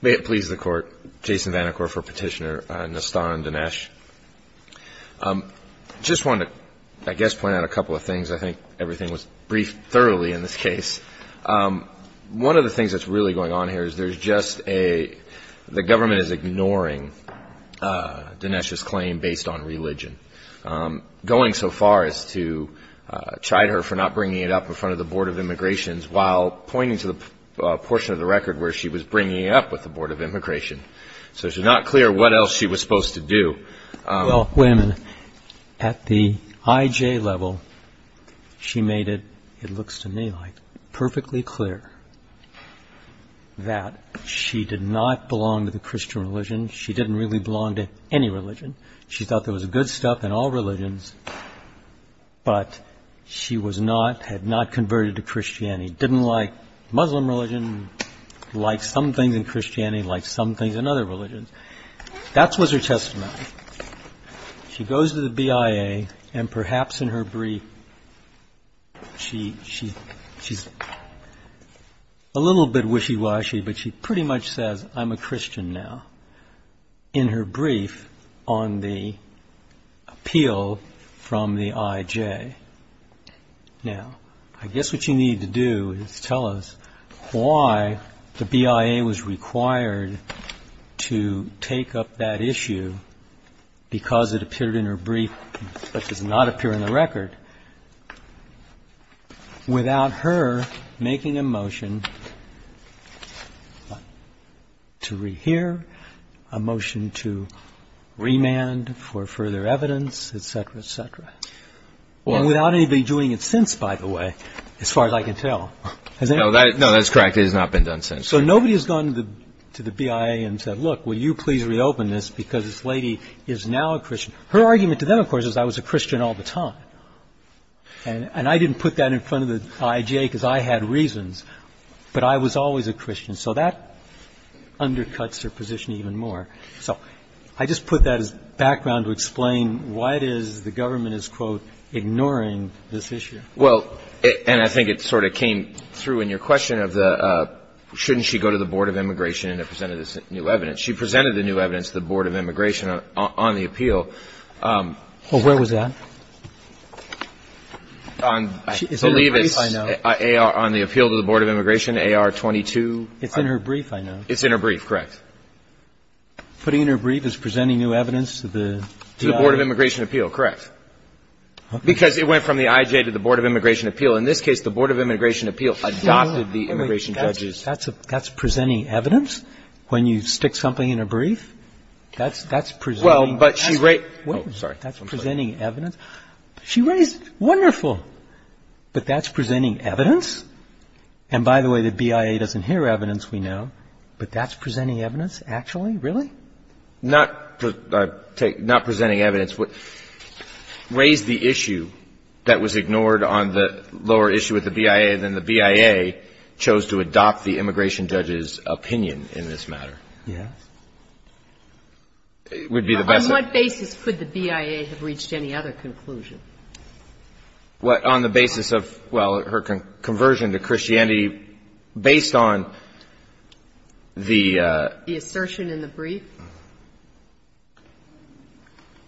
May it please the Court, Jason Van de Koor for Petitioner, Nastan Dinesh. I just want to, I guess, point out a couple of things. I think everything was briefed thoroughly in this case. One of the things that's really going on here is there's just a – the government is ignoring Dinesh's claim based on religion. Going so far as to chide her for not bringing it up in front of the Board of Immigrations while pointing to the portion of the record where she was bringing it up with the Board of Immigration. So it's not clear what else she was supposed to do. Well, wait a minute. At the IJ level, she made it, it looks to me like, perfectly clear that she did not belong to the Christian religion. She didn't really belong to any religion. She thought there was good stuff in all religions, but she was not, had not converted to Christianity. Didn't like Muslim religion, liked some things in Christianity, liked some things in other religions. That was her testament. She goes to the BIA and perhaps in her brief, she's a little bit wishy-washy, but she pretty much says, I'm a Christian now in her brief on the appeal from the IJ. Now, I guess what you need to do is tell us why the BIA was required to take up that issue because it appeared in her brief but does not appear in the record without her making a motion to rehear, a motion to remand for further evidence, et cetera, et cetera. And without anybody doing it since, by the way, as far as I can tell. No, that's correct. It has not been done since. So nobody has gone to the BIA and said, look, will you please reopen this because this lady is now a Christian. Her argument to them, of course, is I was a Christian all the time. And I didn't put that in front of the IJ because I had reasons, but I was always a Christian. So that undercuts her position even more. So I just put that as background to explain why it is the government is, quote, ignoring this issue. Well, and I think it sort of came through in your question of the shouldn't she go to the Board of Immigration and present this new evidence. She presented the new evidence to the Board of Immigration on the appeal. Well, where was that? I believe it's on the appeal to the Board of Immigration, AR-22. It's in her brief, I know. It's in her brief, correct. Putting it in her brief is presenting new evidence to the IJ? To the Board of Immigration appeal, correct. Because it went from the IJ to the Board of Immigration appeal. In this case, the Board of Immigration appeal adopted the immigration judges. That's presenting evidence? When you stick something in a brief? That's presenting evidence? She raised it. Wonderful. But that's presenting evidence? And by the way, the BIA doesn't hear evidence, we know. But that's presenting evidence, actually? Really? Not presenting evidence. Raised the issue that was ignored on the lower issue with the BIA, then the BIA chose to adopt the immigration judge's opinion in this matter. Yes. It would be the best. On what basis could the BIA have reached any other conclusion? On the basis of, well, her conversion to Christianity, based on the ---- The assertion in the brief?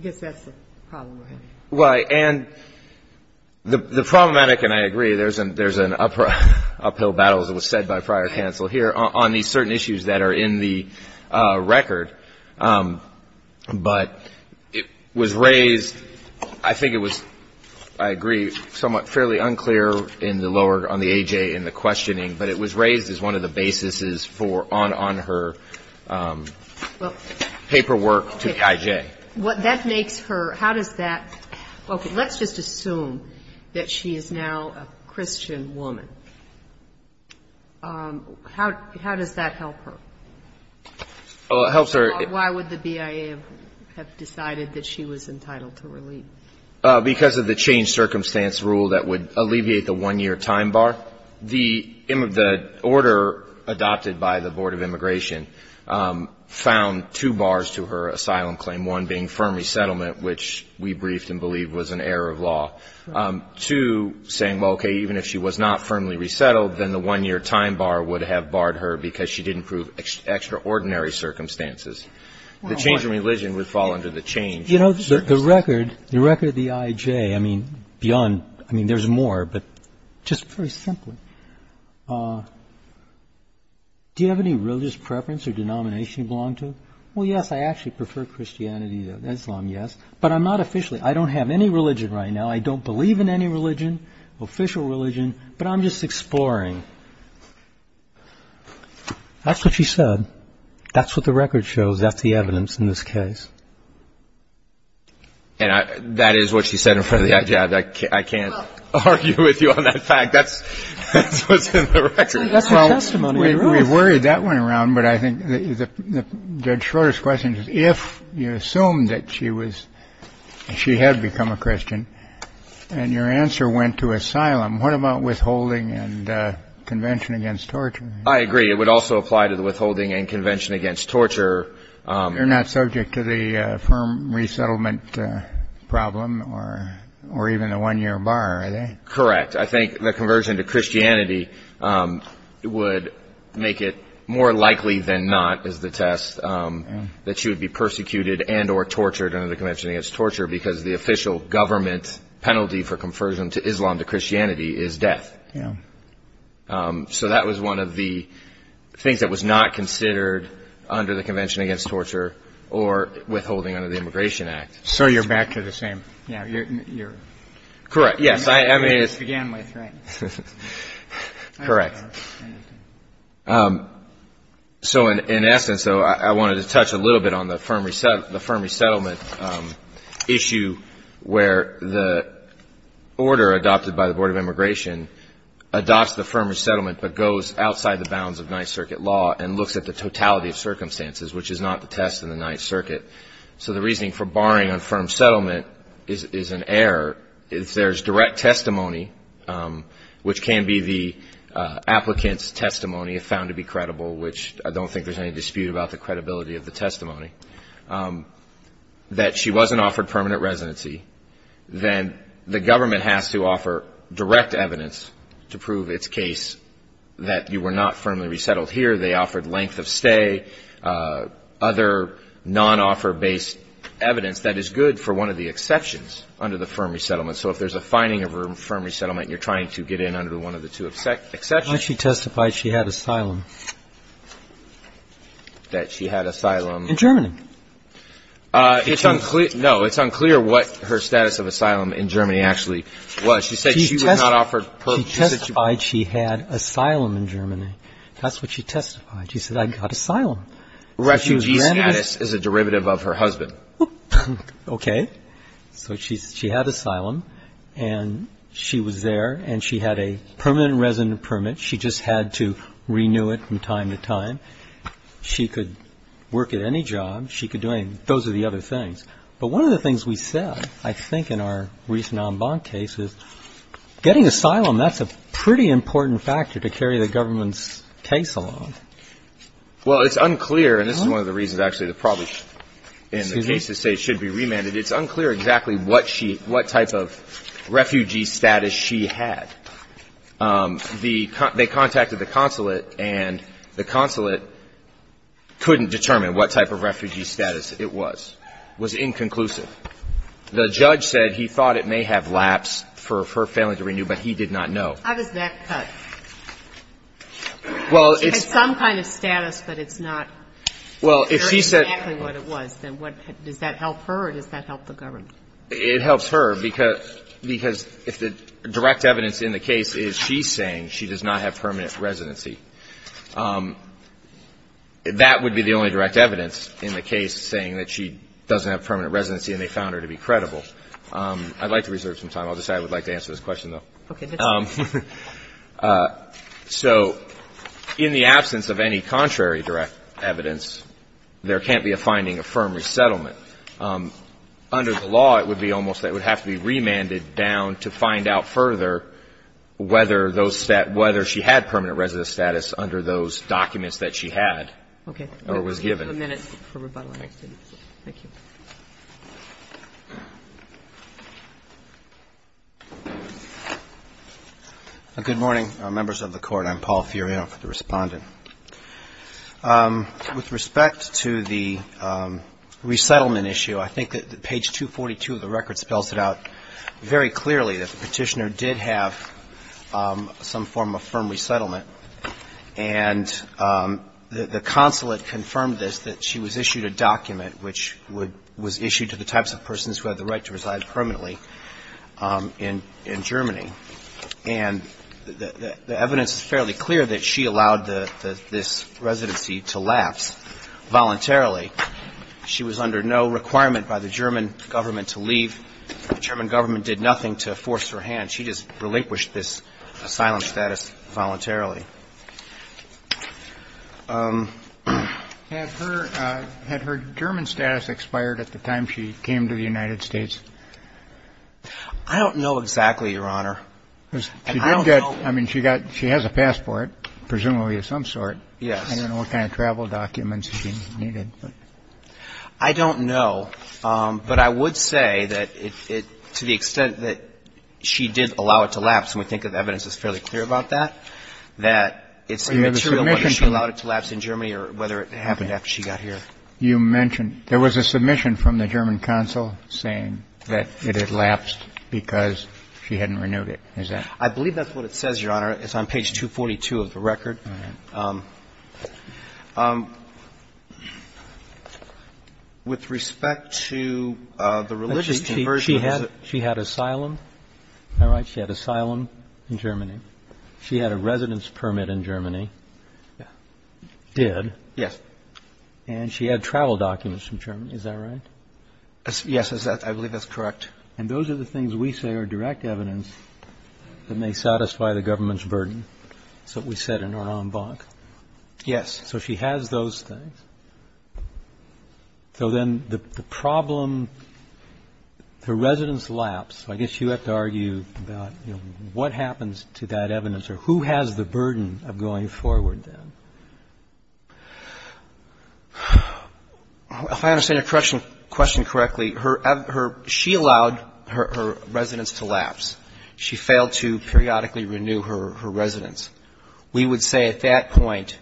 I guess that's the problem. Right. And the problematic, and I agree, there's an uphill battle, as was said by prior counsel here, on these certain issues that are in the record. But it was raised, I think it was, I agree, somewhat fairly unclear in the lower questioning, but it was raised as one of the basis for on her paperwork to the IJ. What that makes her, how does that, okay, let's just assume that she is now a Christian woman. How does that help her? Well, it helps her. Why would the BIA have decided that she was entitled to relief? Because of the changed circumstance rule that would alleviate the one-year time bar. The order adopted by the Board of Immigration found two bars to her asylum claim, one being firm resettlement, which we briefed and believed was an error of law. Two, saying, well, okay, even if she was not firmly resettled, then the one-year time bar would have barred her because she didn't prove extraordinary circumstances. The change in religion would fall under the change. You know, the record, the record of the IJ, I mean, beyond, I mean, there's more, but just very simply, do you have any religious preference or denomination you belong to? Well, yes, I actually prefer Christianity than Islam, yes. But I'm not officially, I don't have any religion right now. I don't believe in any religion, official religion, but I'm just exploring. That's what she said. That's what the record shows. That's the evidence in this case. And that is what she said in front of the IJ. I can't argue with you on that fact. That's what's in the record. That's her testimony. We worried that one around, but I think the shortest question is if you assume that she was, she had become a Christian and your answer went to asylum, what about withholding and convention against torture? I agree. It would also apply to the withholding and convention against torture. You're not subject to the firm resettlement problem or even the one-year bar, are they? Correct. I think the conversion to Christianity would make it more likely than not, is the test, that she would be persecuted and or tortured under the convention against torture because the official government penalty for conversion to Islam, to Christianity, is death. Yeah. So that was one of the things that was not considered under the convention against torture or withholding under the Immigration Act. So you're back to the same. Yeah. Correct. Yes. I mean, it's began with. Correct. So in essence, though, I wanted to touch a little bit on the firm resettlement issue where the order adopted by the Board of Immigration adopts the firm resettlement but goes outside the bounds of Ninth Circuit law and looks at the totality of circumstances, which is not the test in the Ninth Circuit. So the reasoning for barring on firm settlement is an error. If there's direct testimony, which can be the applicant's testimony if found to be credible, which I don't think there's any dispute about the credibility of the testimony, that she wasn't offered permanent residency, then the government has to offer direct evidence to prove its case that you were not firmly resettled here. They offered length of stay, other non-offer-based evidence. That is good for one of the exceptions under the firm resettlement. So if there's a finding of a firm resettlement, you're trying to get in under one of the two exceptions. Why did she testify she had asylum? That she had asylum. In Germany. It's unclear. No, it's unclear what her status of asylum in Germany actually was. She said she was not offered permanent residency. She testified she had asylum in Germany. That's what she testified. She said, I got asylum. Refugee status is a derivative of her husband. Okay. So she had asylum, and she was there, and she had a permanent resident permit. She just had to renew it from time to time. She could work at any job. She could do any of those other things. But one of the things we said, I think, in our recent en banc case is getting asylum, that's a pretty important factor to carry the government's case along. Well, it's unclear, and this is one of the reasons, actually, that probably in the case to say it should be remanded, it's unclear exactly what type of refugee status she had. They contacted the consulate, and the consulate couldn't determine what type of refugee status it was. It was inconclusive. The judge said he thought it may have lapsed for her family to renew, but he did not know. How does that cut? She had some kind of status, but it's not clear exactly what it was. Does that help her, or does that help the government? It helps her, because if the direct evidence in the case is she's saying she does not have permanent residency, that would be the only direct evidence in the case saying that she doesn't have permanent residency and they found her to be credible. I'd like to reserve some time. I'll just say I would like to answer this question, though. So in the absence of any contrary direct evidence, there can't be a finding of firm resettlement. But under the law, it would be almost that it would have to be remanded down to find out further whether she had permanent residence status under those documents that she had or was given. Okay. We have a minute for rebuttal. Thank you. Good morning, members of the Court. I'm Paul Furion, the Respondent. With respect to the resettlement issue, I think that page 242 of the record spells it out very clearly, that the Petitioner did have some form of firm resettlement. And the consulate confirmed this, that she was issued a document which was issued to the types of persons who had the right to reside permanently in Germany. And the evidence is fairly clear that she allowed this residency to lapse voluntarily. She was under no requirement by the German government to leave. The German government did nothing to force her hand. She just relinquished this asylum status voluntarily. Had her German status expired at the time she came to the United States? I don't know exactly, Your Honor. I mean, she has a passport, presumably of some sort. Yes. I don't know what kind of travel documents she needed. I don't know. But I would say that to the extent that she did allow it to lapse, and we think the evidence is fairly clear about that, that it's immaterial whether she allowed it to lapse in Germany or whether it happened after she got here. You mentioned there was a submission from the German consul saying that it had lapsed because she hadn't renewed it. Is that? I believe that's what it says, Your Honor. It's on page 242 of the record. All right. With respect to the religious conversion. She had asylum. All right. She had asylum in Germany. She had a residence permit in Germany. Yes. Did. Yes. And she had travel documents from Germany. Is that right? Yes. I believe that's correct. And those are the things we say are direct evidence that may satisfy the government's burden. That's what we said in our en banc. Yes. So she has those things. So then the problem, the residence lapse, I guess you have to argue about what happens to that evidence burden of going forward then? If I understand your question correctly, she allowed her residence to lapse. She failed to periodically renew her residence. We would say at that point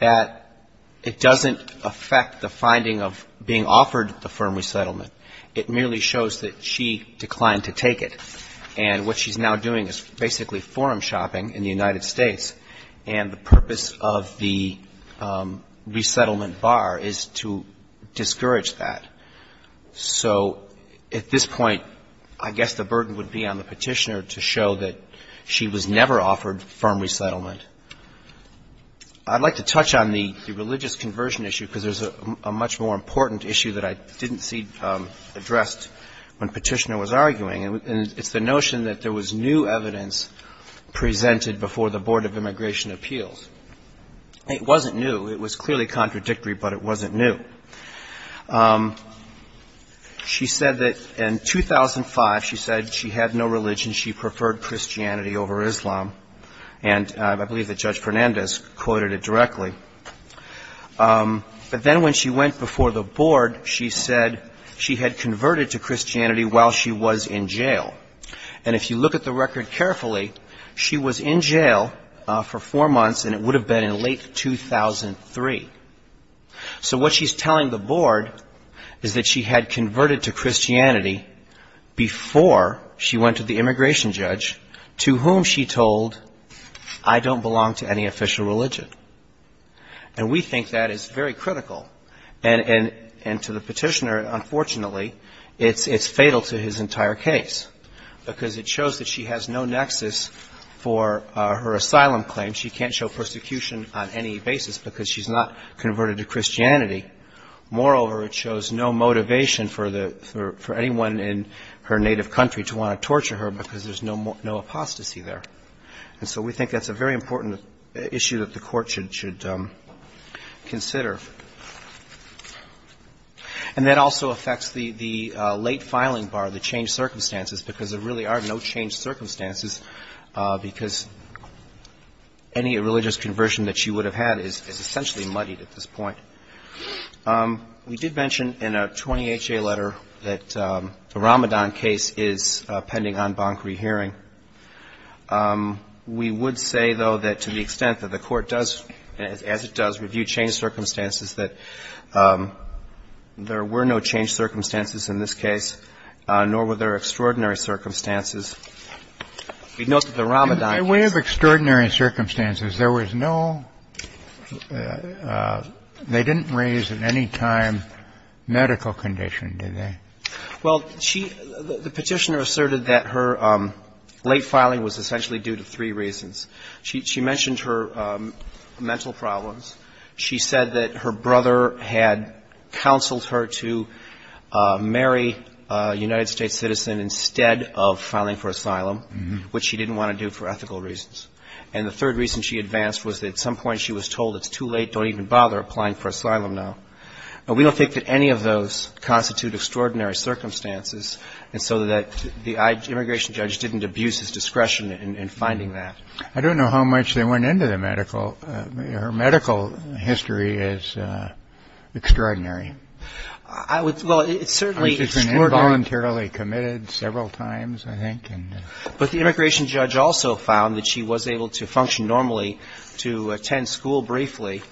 that it doesn't affect the finding of being offered the firm resettlement. It merely shows that she declined to take it. And what she's now doing is basically forum shopping in the United States. And the purpose of the resettlement bar is to discourage that. So at this point, I guess the burden would be on the Petitioner to show that she was never offered firm resettlement. I'd like to touch on the religious conversion issue because there's a much more important issue that I didn't see when Petitioner was arguing, and it's the notion that there was new evidence presented before the Board of Immigration Appeals. It wasn't new. It was clearly contradictory, but it wasn't new. She said that in 2005, she said she had no religion. She preferred Christianity over Islam. And I believe that Judge Fernandez quoted it directly. But then when she went before the Board, she said she had converted to Christianity while she was in jail. And if you look at the record carefully, she was in jail for four months, and it would have been in late 2003. So what she's telling the Board is that she had converted to Christianity before she went to the immigration judge, to whom she told, I don't belong to any official religion. And we think that is very critical. And to the Petitioner, unfortunately, it's fatal to his entire case because it shows that she has no nexus for her asylum claim. She can't show persecution on any basis because she's not converted to Christianity. Moreover, it shows no motivation for anyone in her native country to want to torture her because there's no apostasy there. And so we think that's a very important issue that the Court should consider. And that also affects the late filing bar, the changed circumstances, because there really are no changed circumstances because any religious conversion that she would have had is essentially muddied at this point. We did mention in a 20HA letter that the Ramadan case is pending en banc rehearing. We would say, though, that to the extent that the Court does, as it does, review changed circumstances, that there were no changed circumstances in this case, nor were there extraordinary circumstances. We note that the Ramadan case was not changed. They didn't raise at any time medical condition, did they? Well, the Petitioner asserted that her late filing was essentially due to three reasons. She mentioned her mental problems. She said that her brother had counseled her to marry a United States citizen instead of filing for asylum, which she didn't want to do for ethical reasons. And the third reason she advanced was that at some point she was told, it's too late, don't even bother applying for asylum now. We don't think that any of those constitute extraordinary circumstances, and so that the immigration judge didn't abuse his discretion in finding that. I don't know how much they went into the medical. Her medical history is extraordinary. Well, it certainly is. I think it's been involuntarily committed several times, I think. But the immigration judge also found that she was able to function normally to attend school briefly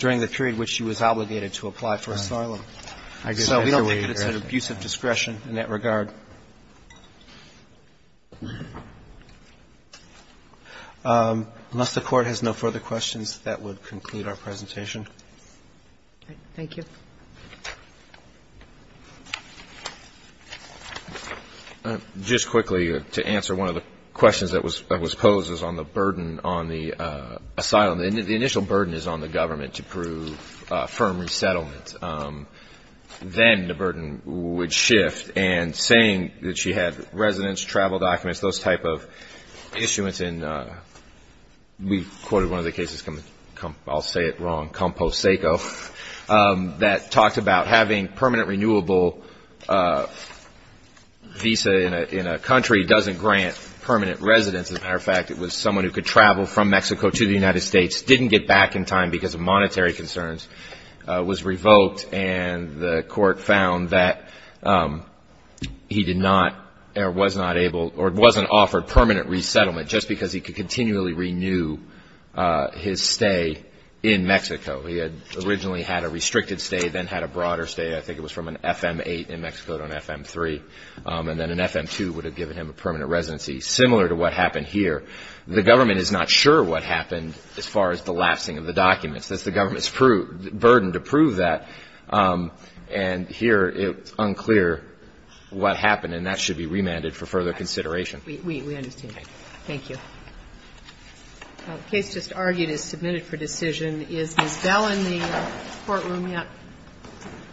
during the period which she was obligated to apply for asylum. So we don't think that it's an abuse of discretion in that regard. Unless the Court has no further questions, that would conclude our presentation. Thank you. Thank you. Just quickly to answer one of the questions that was posed is on the burden on the asylum. The initial burden is on the government to prove firm resettlement. Then the burden would shift, and saying that she had residence, travel documents, those type of issuance in, we quoted one of the cases, I'll say it wrong, Composeco, that talked about having permanent renewable visa in a country doesn't grant permanent residence. As a matter of fact, it was someone who could travel from Mexico to the United States, didn't get back in time because of monetary concerns, was revoked, and the Court found that he did not, or was not able, or wasn't offered permanent resettlement just because he could continually renew his stay in Mexico. He had originally had a restricted stay, then had a broader stay. I think it was from an FM-8 in Mexico to an FM-3, and then an FM-2 would have given him a permanent residency, similar to what happened here. The government is not sure what happened as far as the lapsing of the documents. That's the government's burden to prove that. And here it's unclear what happened, and that should be remanded for further consideration. We understand. Thank you. Well, the case just argued is submitted for decision. Is Ms. Bell in the courtroom yet?